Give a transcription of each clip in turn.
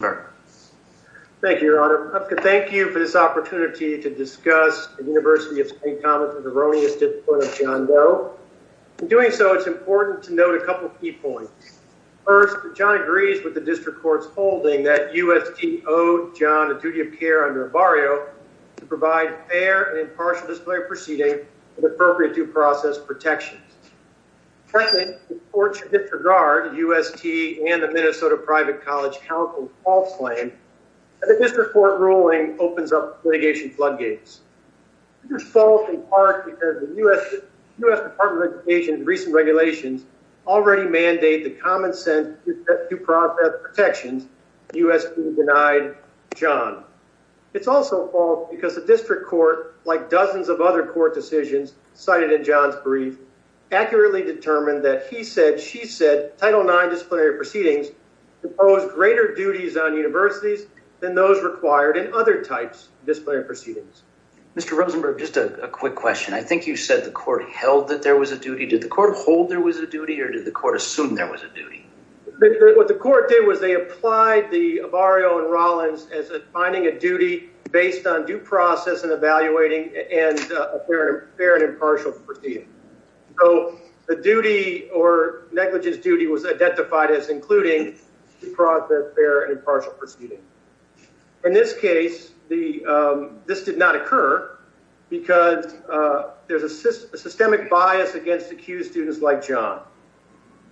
Thank you, Your Honor. I'd like to thank you for this opportunity to discuss the University of St. Thomas from the erroneous discipline of John Doe. In doing so, it's important to note a couple of key points. First, John agrees with the district court's holding that UST owed John a duty of care under barrio to provide fair and impartial disciplinary proceeding with appropriate due process protections. Second, the court should disregard UST and Minnesota Private College Council's false claim that the district court ruling opens up litigation floodgates. This is false in part because the U.S. Department of Education's recent regulations already mandate the common sense due process protections. UST denied John. It's also false because the district court, like dozens of other court decisions cited in John's brief, accurately determined that he said, she said, Title IX disciplinary proceedings impose greater duties on universities than those required in other types of disciplinary proceedings. Mr. Rosenberg, just a quick question. I think you said the court held that there was a duty. Did the court hold there was a duty or did the court assume there was a duty? What the court did was they applied the barrio and Rollins as finding a duty based on due process and evaluating and a fair and impartial proceeding. So the duty or negligence duty was identified as including the fraud, the fair and impartial proceeding. In this case, this did not occur because there's a systemic bias against accused students like John.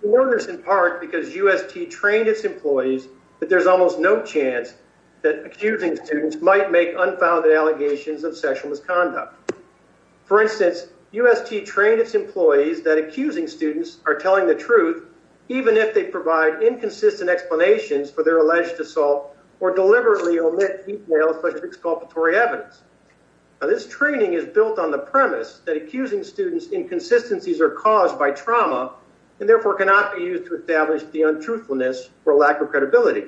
The learners in part because UST trained its employees that there's almost no chance that accusing students might make unfounded allegations of sexual misconduct. For instance, UST trained its employees that accusing students are telling the truth even if they provide inconsistent explanations for their alleged assault or deliberately omit exculpatory evidence. Now this training is built on the premise that accusing students inconsistencies are caused by trauma and therefore cannot be used to establish the untruthfulness or lack of credibility.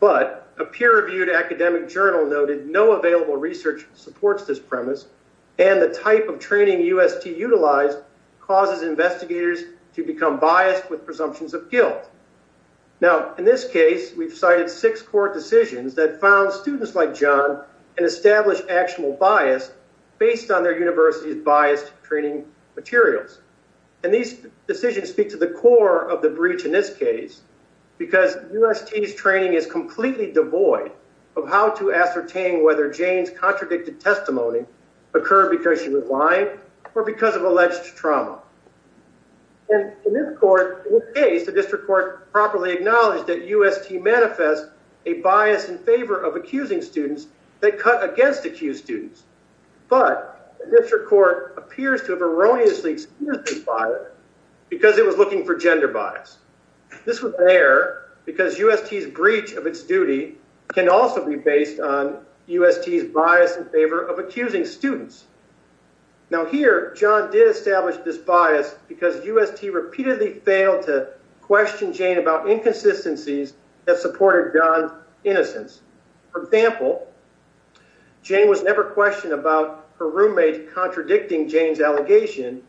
But a peer-reviewed academic journal noted no available research supports this premise and the type of training UST utilized causes investigators to become biased with presumptions of guilt. Now in this case, we've cited six court decisions that found students like John and established actionable bias based on their university's biased training materials. And these decisions speak to the core of the breach in this case because UST's training is completely devoid of how to ascertain whether Jane's contradicted testimony occurred because she was lying or because of alleged trauma. And in this court, in this case, the district court properly acknowledged that UST manifests a bias in favor of accusing students that cut against accused students. But the district court appears to have erroneously experienced this bias because it was looking for gender bias. This was there because UST's breach of its duty can also be based on UST's bias in favor of accusing students. Now here, John did establish this bias because UST repeatedly failed to question Jane about inconsistencies that supported John's innocence. For example, Jane was never questioned about her roommate contradicting Jane's allegation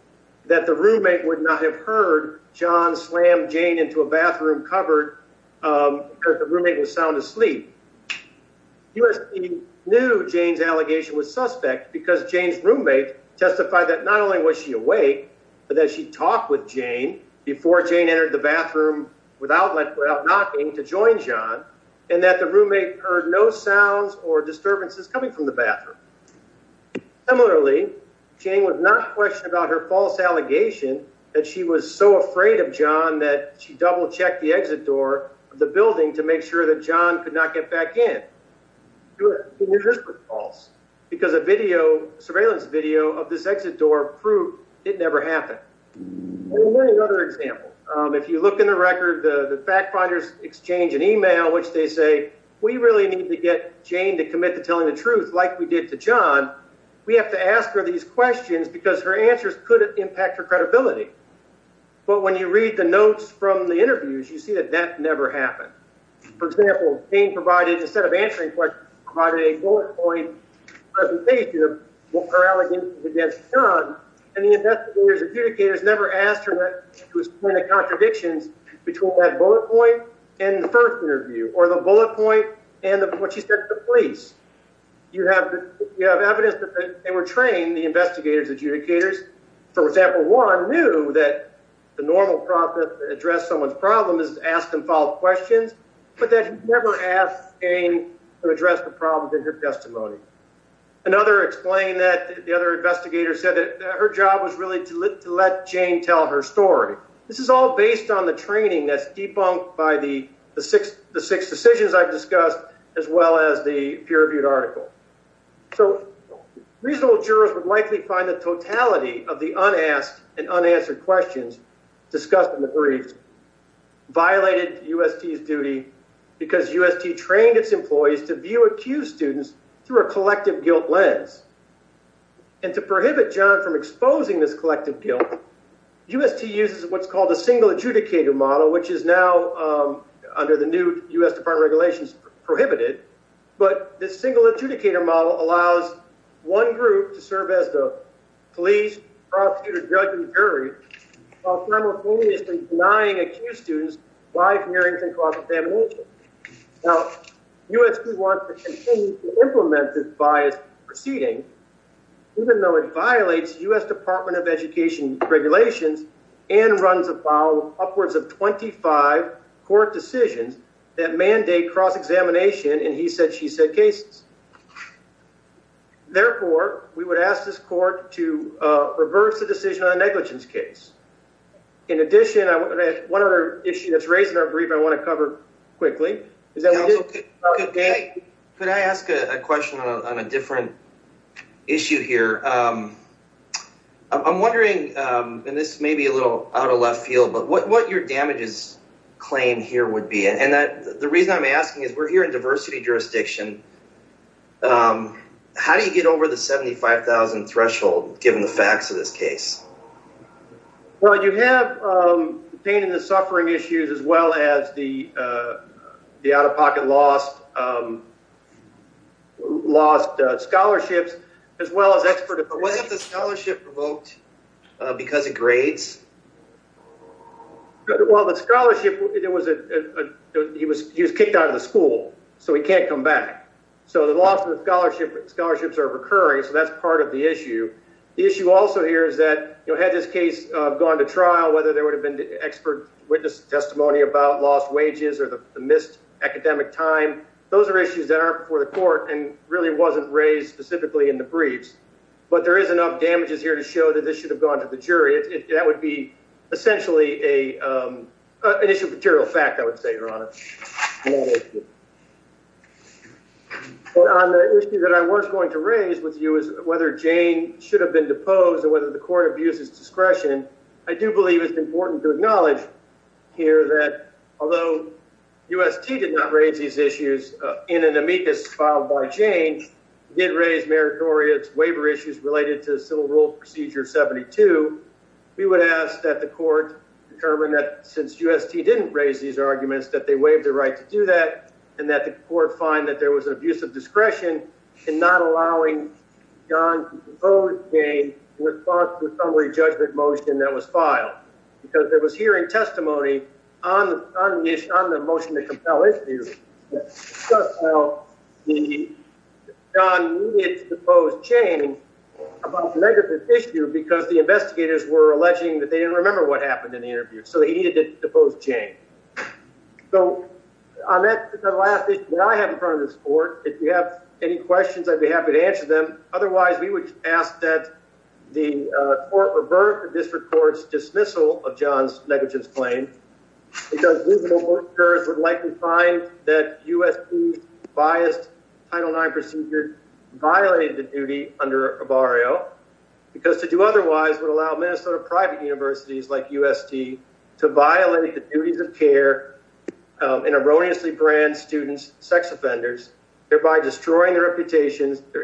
that the roommate would not have heard John slam Jane into a bathroom cupboard because the roommate was sound asleep. UST knew Jane's allegation was suspect because Jane's roommate testified that not only was she awake, but that she talked with Jane before Jane entered the bathroom without knocking to join John and that the roommate heard no sounds or disturbances coming from the bathroom. Similarly, Jane was not questioned about her false allegation that she was so afraid of John that she double-checked the exit door of the building to make sure that John could not get back in. This was false because a surveillance video of this exit door proved it never happened. Another example, if you look in the record, the fact finders exchange an email in which they say, we really need to get Jane to commit to telling the truth like we did to John. We have to ask her these questions because her answers could impact her credibility. But when you read the notes from the interviews, you see that that never happened. For example, Jane provided, instead of answering questions, provided a bullet point presentation of her allegations against John and the investigator's adjudicators never asked her to explain the contradictions between that bullet point and the first interview or the bullet point and what she said to the police. You have evidence that they were trained, the investigators' adjudicators. For example, one knew that the normal process to address someone's problem is to ask them follow-up questions, but that he never asked Jane to address the problems in her testimony. Another explained that the other investigator said that her job was really to let Jane tell her story. This is all based on the training that's debunked by the six decisions I've discussed as well as the peer-reviewed article. So reasonable jurors would likely find the totality of the unasked and unanswered questions discussed in the briefs violated UST's duty because UST trained its employees to view accused students through a collective guilt lens. And to prohibit John from exposing this collective guilt, UST uses what's called a single adjudicator model, which is now, under the new US Department of Regulations, prohibited. But this single adjudicator model allows one group to serve as the police, prosecutor, judge, and jury, while simultaneously denying accused students live hearings and cross-examination. Now, it violates US Department of Education regulations and runs about upwards of 25 court decisions that mandate cross-examination, and he said she said cases. Therefore, we would ask this court to reverse the decision on the negligence case. In addition, one other issue that's raised in our brief I want to cover quickly. Could I ask a question on a different issue here? I'm wondering, and this may be a little out of left field, but what your damages claim here would be? And the reason I'm asking is we're here in diversity jurisdiction. How do you get over the 75,000 threshold, given the facts of this case? Well, you have pain in the suffering issues, as well as the out-of-pocket lost scholarships, as well as expert opinion. But what have the scholarship provoked because of grades? Well, the scholarship, he was kicked out of the school, so he can't come back. So the loss of the scholarships are recurring, so that's part of the issue. The issue also here is that had this case gone to trial, whether there would have been expert witness testimony about lost wages or the missed academic time, those are issues that aren't before the court and really wasn't raised specifically in the briefs. But there is enough damages here to show that this should have gone to the jury. That would be essentially an issue of material fact, I would say, Your Honor. On the issue that I was going to raise with you is whether Jane should have been deposed or whether the court abuses discretion. I do believe it's important to acknowledge here that although UST did not raise these issues in an amicus filed by Jane, did raise meritorious waiver issues related to Civil Rule Procedure 72. We would ask that the court determine that since UST didn't raise these arguments, that they waived the right to do that and that the court find that there was an abuse of discretion in not allowing John to depose Jane in response to a summary judgment motion that was filed. Because there was hearing testimony on the motion to compel the jury. John needed to depose Jane about a negative issue because the investigators were alleging that they didn't remember what happened in the interview. So he needed to depose Jane. So on that last issue that I have in front of this court, if you have any questions, I'd be happy to answer them. Otherwise, we would ask that the court revert the district court's dismissal of John's negligence claim because juvenile workers would likely find that UST's biased Title IX procedure violated the duty under Barrio because to do otherwise would allow Minnesota private universities like UST to violate the their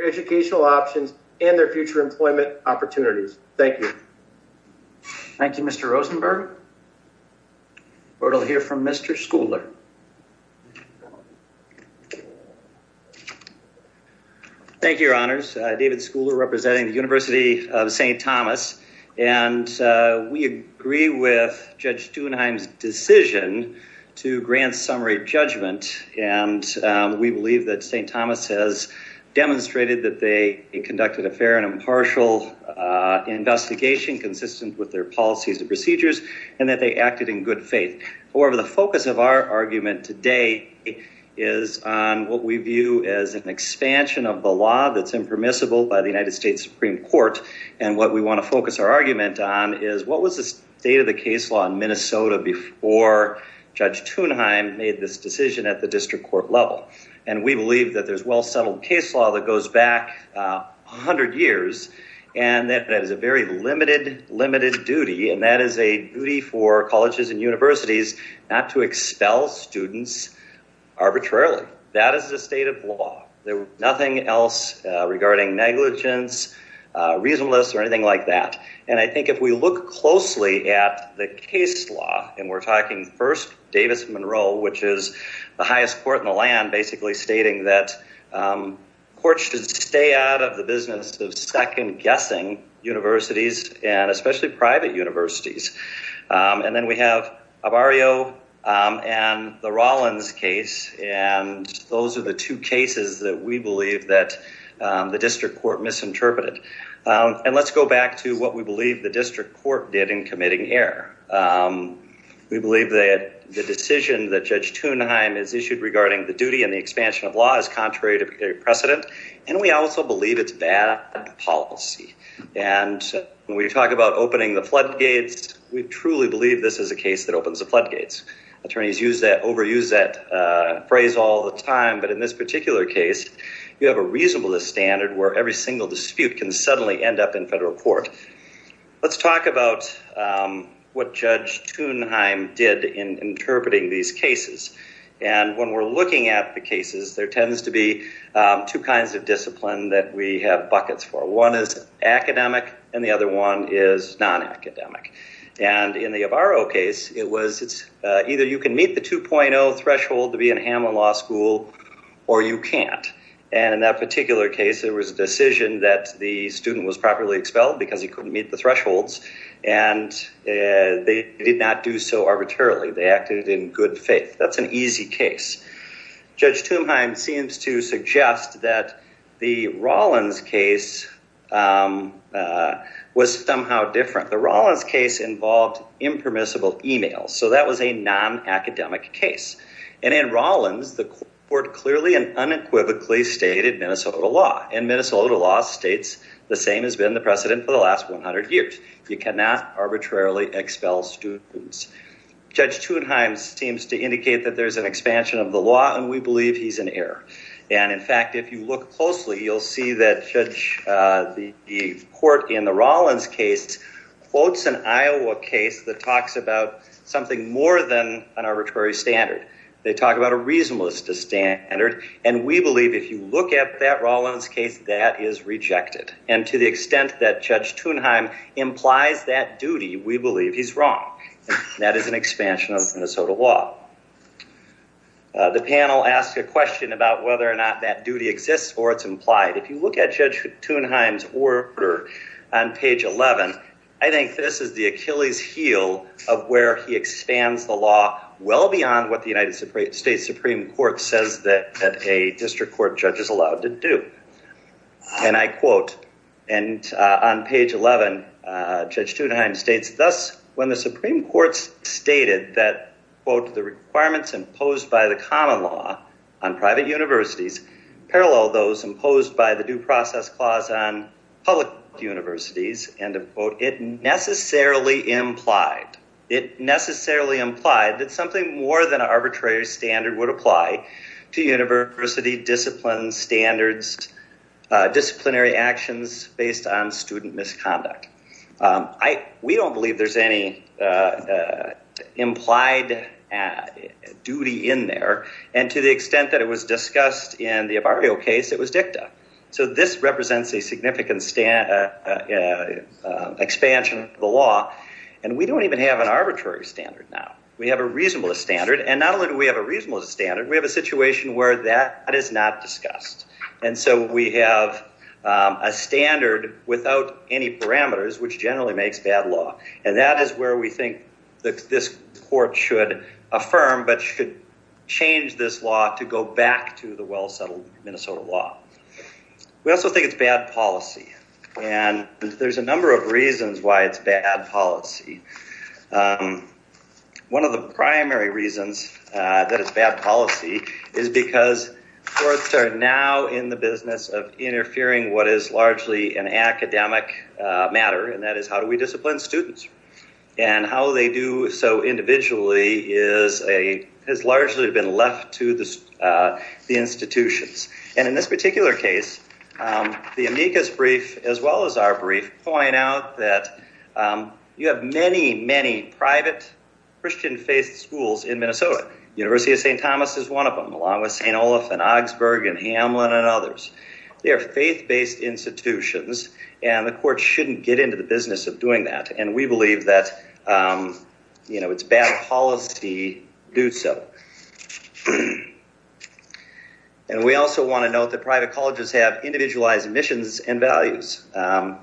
educational options and their future employment opportunities. Thank you. Thank you, Mr. Rosenberg. We'll hear from Mr. Schouler. Thank you, Your Honors. David Schouler representing the University of St. Thomas. And we agree with Judge Stuenheim's decision to grant summary judgment. And we believe that St. Thomas demonstrated that they conducted a fair and impartial investigation consistent with their policies and procedures and that they acted in good faith. However, the focus of our argument today is on what we view as an expansion of the law that's impermissible by the United States Supreme Court. And what we want to focus our argument on is what was the state of the case law in Minnesota before Judge Stuenheim made this decision at the district court level. And we believe that there's well settled case law that goes back 100 years and that is a very limited limited duty. And that is a duty for colleges and universities not to expel students arbitrarily. That is the state of law. There's nothing else regarding negligence, reasonableness or anything like that. And I think if we look closely at the case law and we're talking first Davis-Monroe, which is the highest court in the land basically stating that courts should stay out of the business of second-guessing universities and especially private universities. And then we have Avario and the Rollins case. And those are the two cases that we believe that the district court misinterpreted. And let's go back to what we believe the district court did in committing error. We believe that the decision that Judge Stuenheim is issued regarding the duty and the expansion of law is contrary to precedent. And we also believe it's bad policy. And when we talk about opening the floodgates, we truly believe this is a case that opens the floodgates. Attorneys use that overuse that phrase all the time. But in this particular case, you have a reasonableness standard where every single dispute can suddenly end up in federal court. Let's talk about what Judge Stuenheim did in interpreting these cases. And when we're looking at the cases, there tends to be two kinds of discipline that we have buckets for. One is academic, and the other one is non-academic. And in the Avario case, it was it's either you can meet the 2.0 threshold to be in decision that the student was properly expelled because he couldn't meet the thresholds. And they did not do so arbitrarily. They acted in good faith. That's an easy case. Judge Stuenheim seems to suggest that the Rawlins case was somehow different. The Rawlins case involved impermissible email. So that was a non-academic case. And in Rawlins, the court clearly and unequivocally stated Minnesota law. And Minnesota law states the same has been the precedent for the last 100 years. You cannot arbitrarily expel students. Judge Stuenheim seems to indicate that there's an expansion of the law, and we believe he's in error. And in fact, if you look closely, you'll see that the court in the Rawlins case quotes an Iowa case that talks about something more than an arbitrary standard. They talk about a reasonableness to standard, and we believe if you look at that Rawlins case, that is rejected. And to the extent that Judge Stuenheim implies that duty, we believe he's wrong. That is an expansion of Minnesota law. The panel asked a question about whether or not that duty exists or it's implied. If you look at where he expands the law well beyond what the United States Supreme Court says that a district court judge is allowed to do. And I quote, and on page 11, Judge Stuenheim states, thus, when the Supreme Court stated that, quote, the requirements imposed by the common law on private universities parallel those imposed by the due process clause on public universities, end of quote, it necessarily implied. It necessarily implied that something more than an arbitrary standard would apply to university disciplines, standards, disciplinary actions based on student misconduct. We don't believe there's any implied duty in there, and to the extent that it was discussed in the Avario case, it was dicta. So this represents a significant expansion of the law, and we don't even have an arbitrary standard now. We have a reasonableness standard, and not only do we have a reasonableness standard, we have a situation where that is not discussed. And so we have a standard without any parameters, which generally makes bad law. And that is where we settle Minnesota law. We also think it's bad policy. And there's a number of reasons why it's bad policy. One of the primary reasons that it's bad policy is because courts are now in the business of interfering what is largely an academic matter, and that is how do we discipline students? And how they do so individually has largely been left to the institutions. And in this particular case, the amicus brief, as well as our brief, point out that you have many, many private Christian faith schools in Minnesota. University of St. Thomas is one of them, along with St. Olaf and Augsburg and Hamlin and others. They are faith-based institutions, and the court shouldn't get into the business of doing that. And we believe that it's bad policy to do so. And we also want to note that private colleges have individualized missions and values.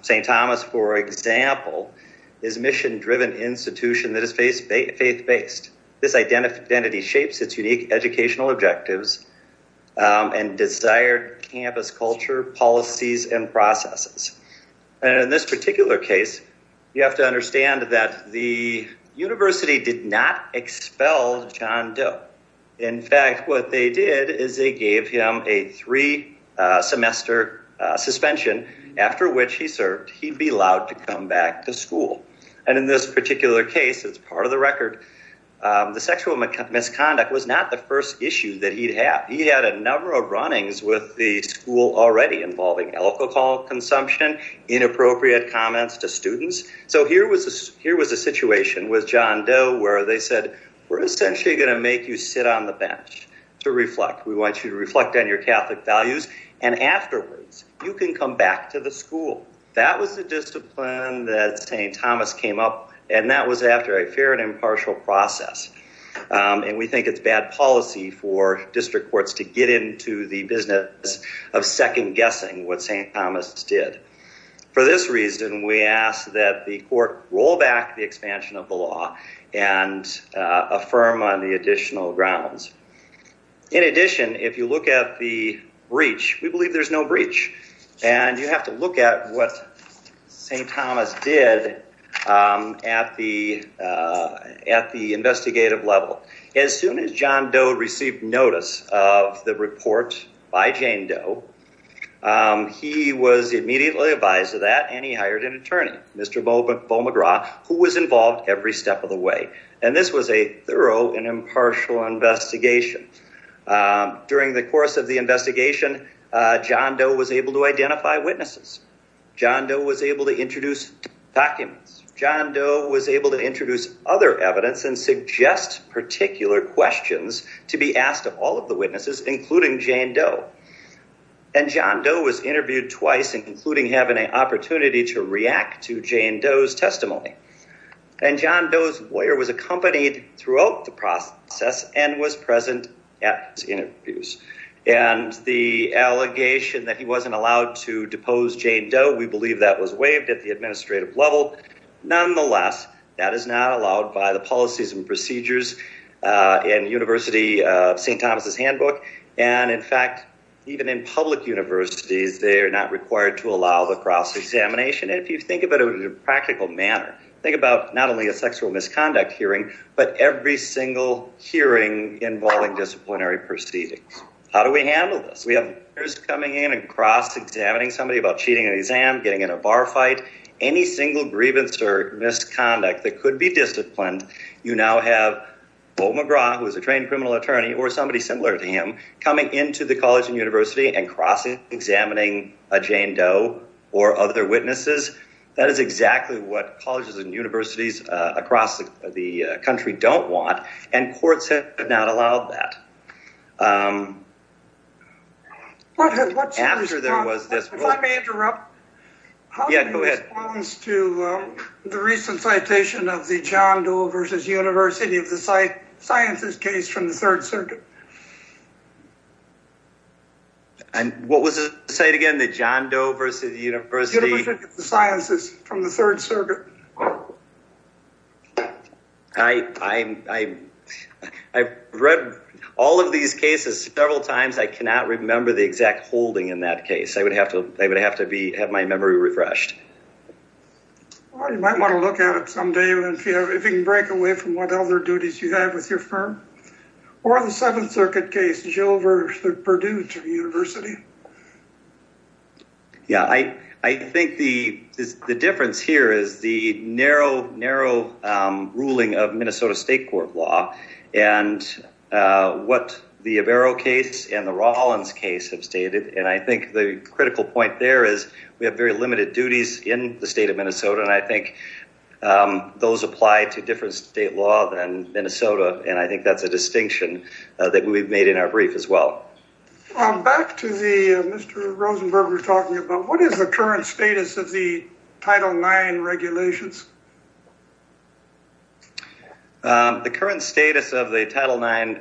St. Thomas, for example, is a mission-driven institution that is faith-based. This identity shapes its unique educational objectives and desired campus culture, policies, and processes. And in this particular case, you have to understand that the university did not expel John Doe. In fact, what they did is they gave him a three-semester suspension, after which he served, he'd be allowed to come back to school. And in this particular case, as part of the record, the sexual misconduct was not the first issue that he'd have. He had a school already involving alcohol consumption, inappropriate comments to students. So here was a situation with John Doe where they said, we're essentially going to make you sit on the bench to reflect. We want you to reflect on your Catholic values, and afterwards, you can come back to the school. That was the discipline that St. Thomas came up, and that was after a fair and of second-guessing what St. Thomas did. For this reason, we ask that the court roll back the expansion of the law and affirm on the additional grounds. In addition, if you look at the breach, we believe there's no breach, and you have to look at what St. Thomas did at the investigative level. As soon as John Doe received notice of the report by Jane Doe, he was immediately advised of that, and he hired an attorney, Mr. Beau McGraw, who was involved every step of the way. And this was a thorough and impartial investigation. During the course of the investigation, John Doe was able to identify witnesses. John Doe was able to introduce documents. John Doe was able to introduce other evidence and suggest particular questions to be asked of all of the witnesses, including Jane Doe. And John Doe was interviewed twice, including having an opportunity to react to Jane Doe's testimony. And John Doe's lawyer was accompanied throughout the process and was present at his hearing. We believe that was waived at the administrative level. Nonetheless, that is not allowed by the policies and procedures in St. Thomas' handbook. And in fact, even in public universities, they are not required to allow the cross-examination. And if you think about it in a practical manner, think about not only a sexual misconduct hearing, but every single hearing involving disciplinary proceedings. How do we handle this? We have coming in and cross-examining somebody about cheating an exam, getting in a bar fight, any single grievance or misconduct that could be disciplined. You now have Bo McGraw, who is a trained criminal attorney or somebody similar to him, coming into the college and university and cross-examining a Jane Doe or other witnesses. That is exactly what colleges and universities across the country don't want. And courts have not allowed that. After there was this... If I may interrupt, how do you respond to the recent citation of the John Doe versus University of the Sciences case from the Third Circuit? And what was the site again? The John Doe versus University... University of the Sciences from the Third Circuit. I've read all of these cases several times. I cannot remember the exact holding in that case. I would have to have my memory refreshed. You might want to look at it someday if you can break away from what other duties you have with your firm. Or the Seventh Circuit case, Jill versus Purdue University. Yeah, I think the difference here is the narrow, narrow ruling of Minnesota State Court law. And what the Avero case and the Rawlins case have stated. And I think the critical point there is we have very limited duties in the state of Minnesota. And I think those apply to different state law than Minnesota. And I think that's a distinction that we've made in our brief as well. Back to the Mr. Rosenberg we're talking about. What is the current status of the Title IX regulations? The current status of the Title IX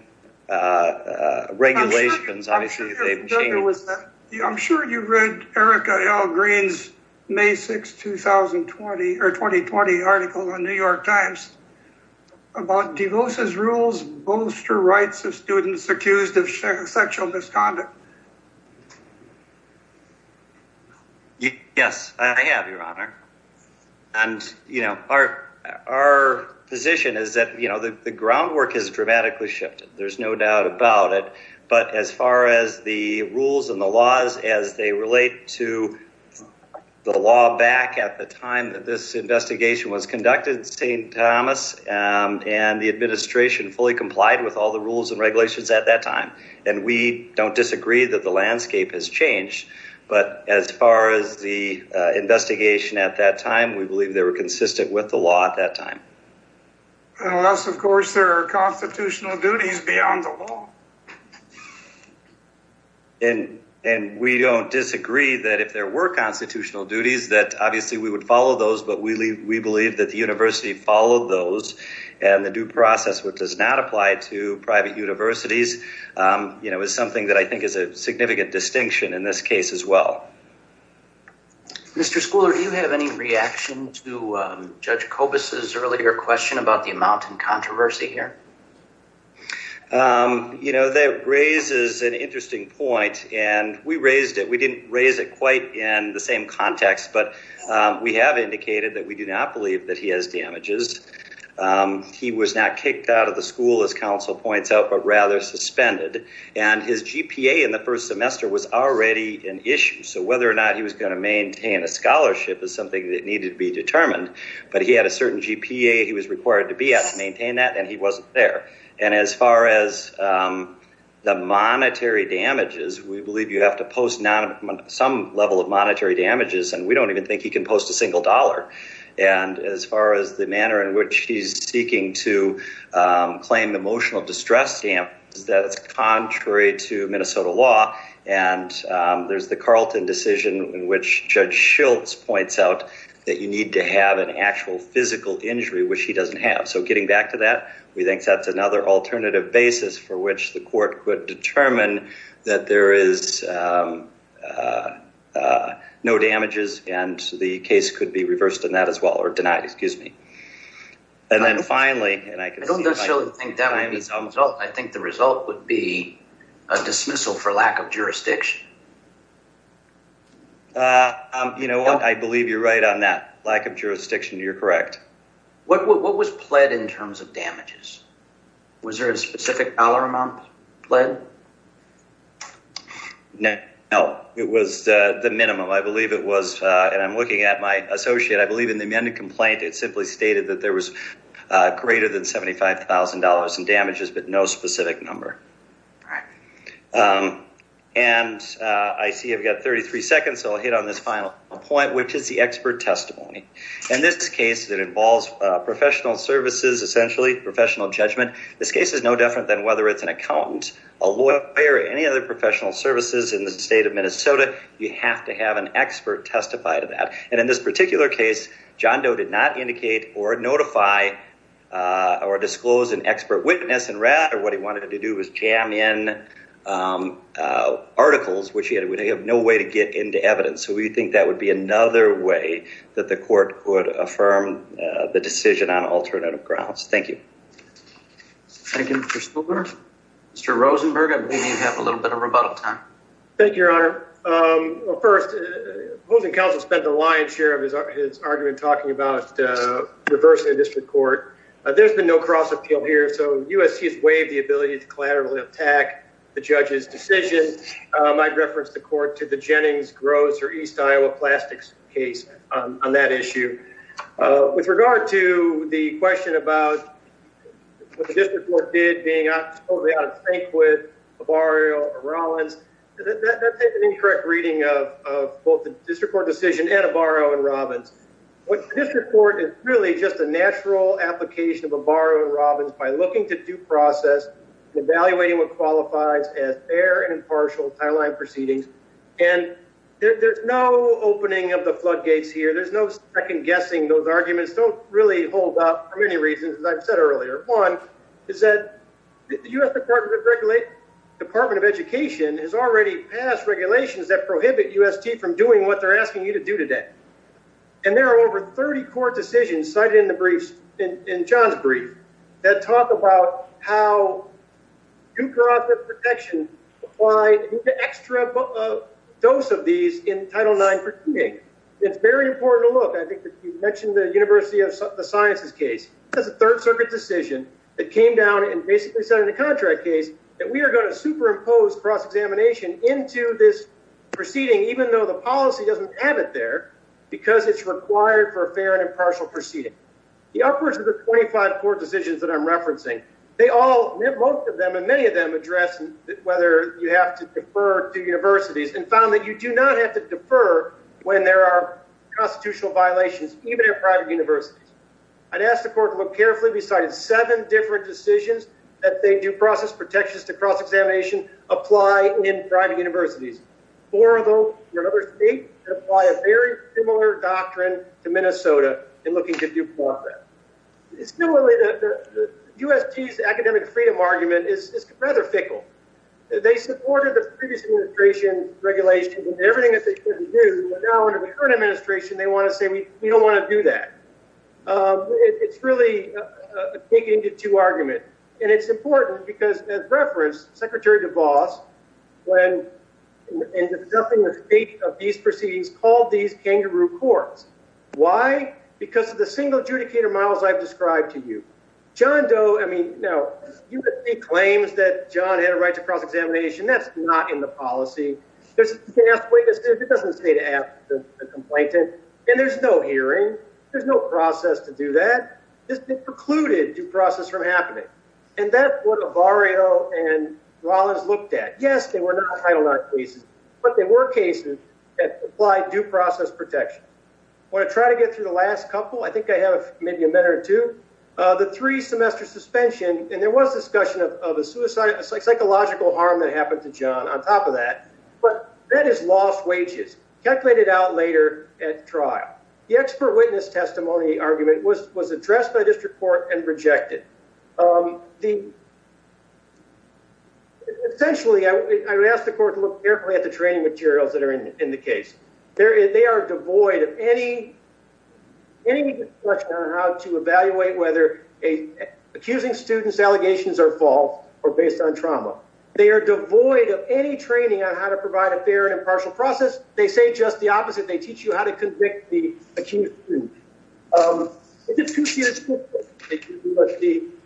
regulations, obviously, they've changed. I'm sure you've read Erica L. Green's May 6, 2020 article in the New York Times about DeVos' rules bolster rights of students accused of sexual misconduct. Yes, I have, Your Honor. And our position is that the groundwork has dramatically shifted. There's no doubt about it. But as far as the rules and the laws as they relate to the law back at the time that this investigation was conducted, St. Thomas and the administration fully complied with all the rules and regulations at that time. And we don't disagree that the landscape has changed. But as far as the investigation at that time, we believe they were consistent with the law at that time. Unless, of course, there are constitutional duties beyond the law. And we don't disagree that if there were constitutional duties, that obviously we would follow those. But we believe that the university followed those and the due process, which does not apply to private universities, you know, is something that I think is a significant distinction in this case as well. Mr. Schooler, do you have any reaction to Judge Kobus' earlier question about the controversy here? You know, that raises an interesting point. And we raised it. We didn't raise it quite in the same context. But we have indicated that we do not believe that he has damages. He was not kicked out of the school, as counsel points out, but rather suspended. And his GPA in the first semester was already an issue. So whether or not he was going to maintain a scholarship is something that needed to be determined. But he had a certain GPA. He was required to be at to maintain that. And he wasn't there. And as far as the monetary damages, we believe you have to post some level of monetary damages. And we don't even think he can post a single dollar. And as far as the manner in which he's seeking to claim the emotional distress stamp, that's contrary to Minnesota law. And there's the Carlton decision in which Judge Shilts points out that you need to have an actual physical injury, which he doesn't have. So getting back to that, we think that's another alternative basis for which the court could determine that there is no damages. And the case could be reversed in that as well or denied, excuse me. And then finally, and I don't necessarily think that would be the result. I think the result would be a dismissal for lack of jurisdiction. You know what, I believe you're right on that. Lack of jurisdiction, you're correct. What was pled in terms of damages? Was there a specific dollar amount pled? No, it was the minimum. I believe it was, and I'm looking at my associate, I believe in the amended complaint, it simply stated that there was greater than $75,000 in damages, but no specific number. And I see I've got 33 seconds, so I'll hit on this final point, which is the expert testimony. In this case, it involves professional services, essentially professional judgment. This case is no different than whether it's an accountant, a lawyer, any other professional services in the state of Minnesota, you have to have an expert testify to that. And in this particular case, John Doe did not indicate or notify or disclose an expert witness and rather what he wanted to do was jam in articles, which he had no way to get into evidence. So we think that would be another way that the court would affirm the decision on alternative grounds. Thank you. Thank you, Mr. Spooler. Mr. Rosenberg, I believe you have a little bit of rebuttal time. Thank you, Your Honor. First, opposing counsel spent the lion's share of his argument talking about reversing the district court. There's been no cross appeal here, so USC has waived the ability to collaterally attack the judge's decision. I'd reference the court to the on that issue. With regard to the question about what the district court did being totally out of sync with Avaro and Robbins, that's an incorrect reading of both the district court decision and Avaro and Robbins. What the district court is really just a natural application of Avaro and Robbins by looking to due process and evaluating what qualifies as fair and impartial timeline proceedings. And there's no opening of the floodgates here. There's no second guessing those arguments don't really hold up for many reasons, as I've said earlier. One is that the U.S. Department of Education has already passed regulations that prohibit UST from doing what they're asking you to do today. And there are over 30 court decisions cited in the briefs in due process protection apply an extra dose of these in Title IX. It's very important to look. I think that you mentioned the University of the Sciences case. That's a third circuit decision that came down and basically said in the contract case that we are going to superimpose cross examination into this proceeding, even though the policy doesn't have it there because it's required for a fair and impartial proceeding. The upwards of the 25 court decisions that I'm of them and many of them address whether you have to defer to universities and found that you do not have to defer when there are constitutional violations, even in private universities. I'd ask the court to look carefully. We cited seven different decisions that they do process protections to cross examination apply in private universities. Four of them in another state that apply a very similar doctrine to Minnesota in looking to do more of that. It's similar to UST's academic freedom argument is rather fickle. They supported the previous administration regulations and everything that they couldn't do. But now under the current administration, they want to say we don't want to do that. It's really taken into two arguments. And it's important because as referenced, Secretary DeVos, when in the state of these proceedings called these kangaroo courts. Why? Because of the single adjudicator models I've described to you. John Doe, I mean, no, he claims that John had a right to cross examination. That's not in the policy. There's no hearing. There's no process to do that. This is precluded due process from happening. And that's what a barrio and Wallace looked at. Yes, they were not title not cases, but they were cases that apply due process protection. When I try to get through the couple, I think I have maybe a minute or two, the three semester suspension, and there was discussion of the suicide, psychological harm that happened to John on top of that. But that is lost wages calculated out later at trial. The expert witness testimony argument was addressed by district court and rejected the. Essentially, I would ask the court to look carefully at the training materials that are in the case. They are devoid of any any discussion on how to evaluate whether a accusing students allegations are false or based on trauma. They are devoid of any training on how to provide a fair and impartial process. They say just the opposite. They teach you how to convict the accused.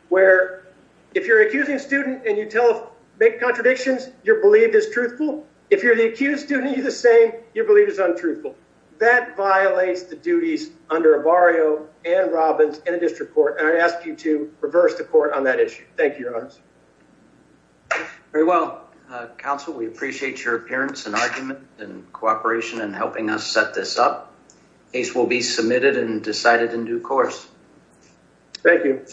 Where if you're accusing a student and you tell make contradictions, you're believed is truthful. If you're the accused, do need the same. You believe is untruthful. That violates the duties under a barrio and Robins in a district court. And I ask you to reverse the court on that issue. Thank you, Your Honor. Very well, Council. We appreciate your appearance and argument and cooperation and helping us set this up. Case will be submitted and decided in due course. Thank you.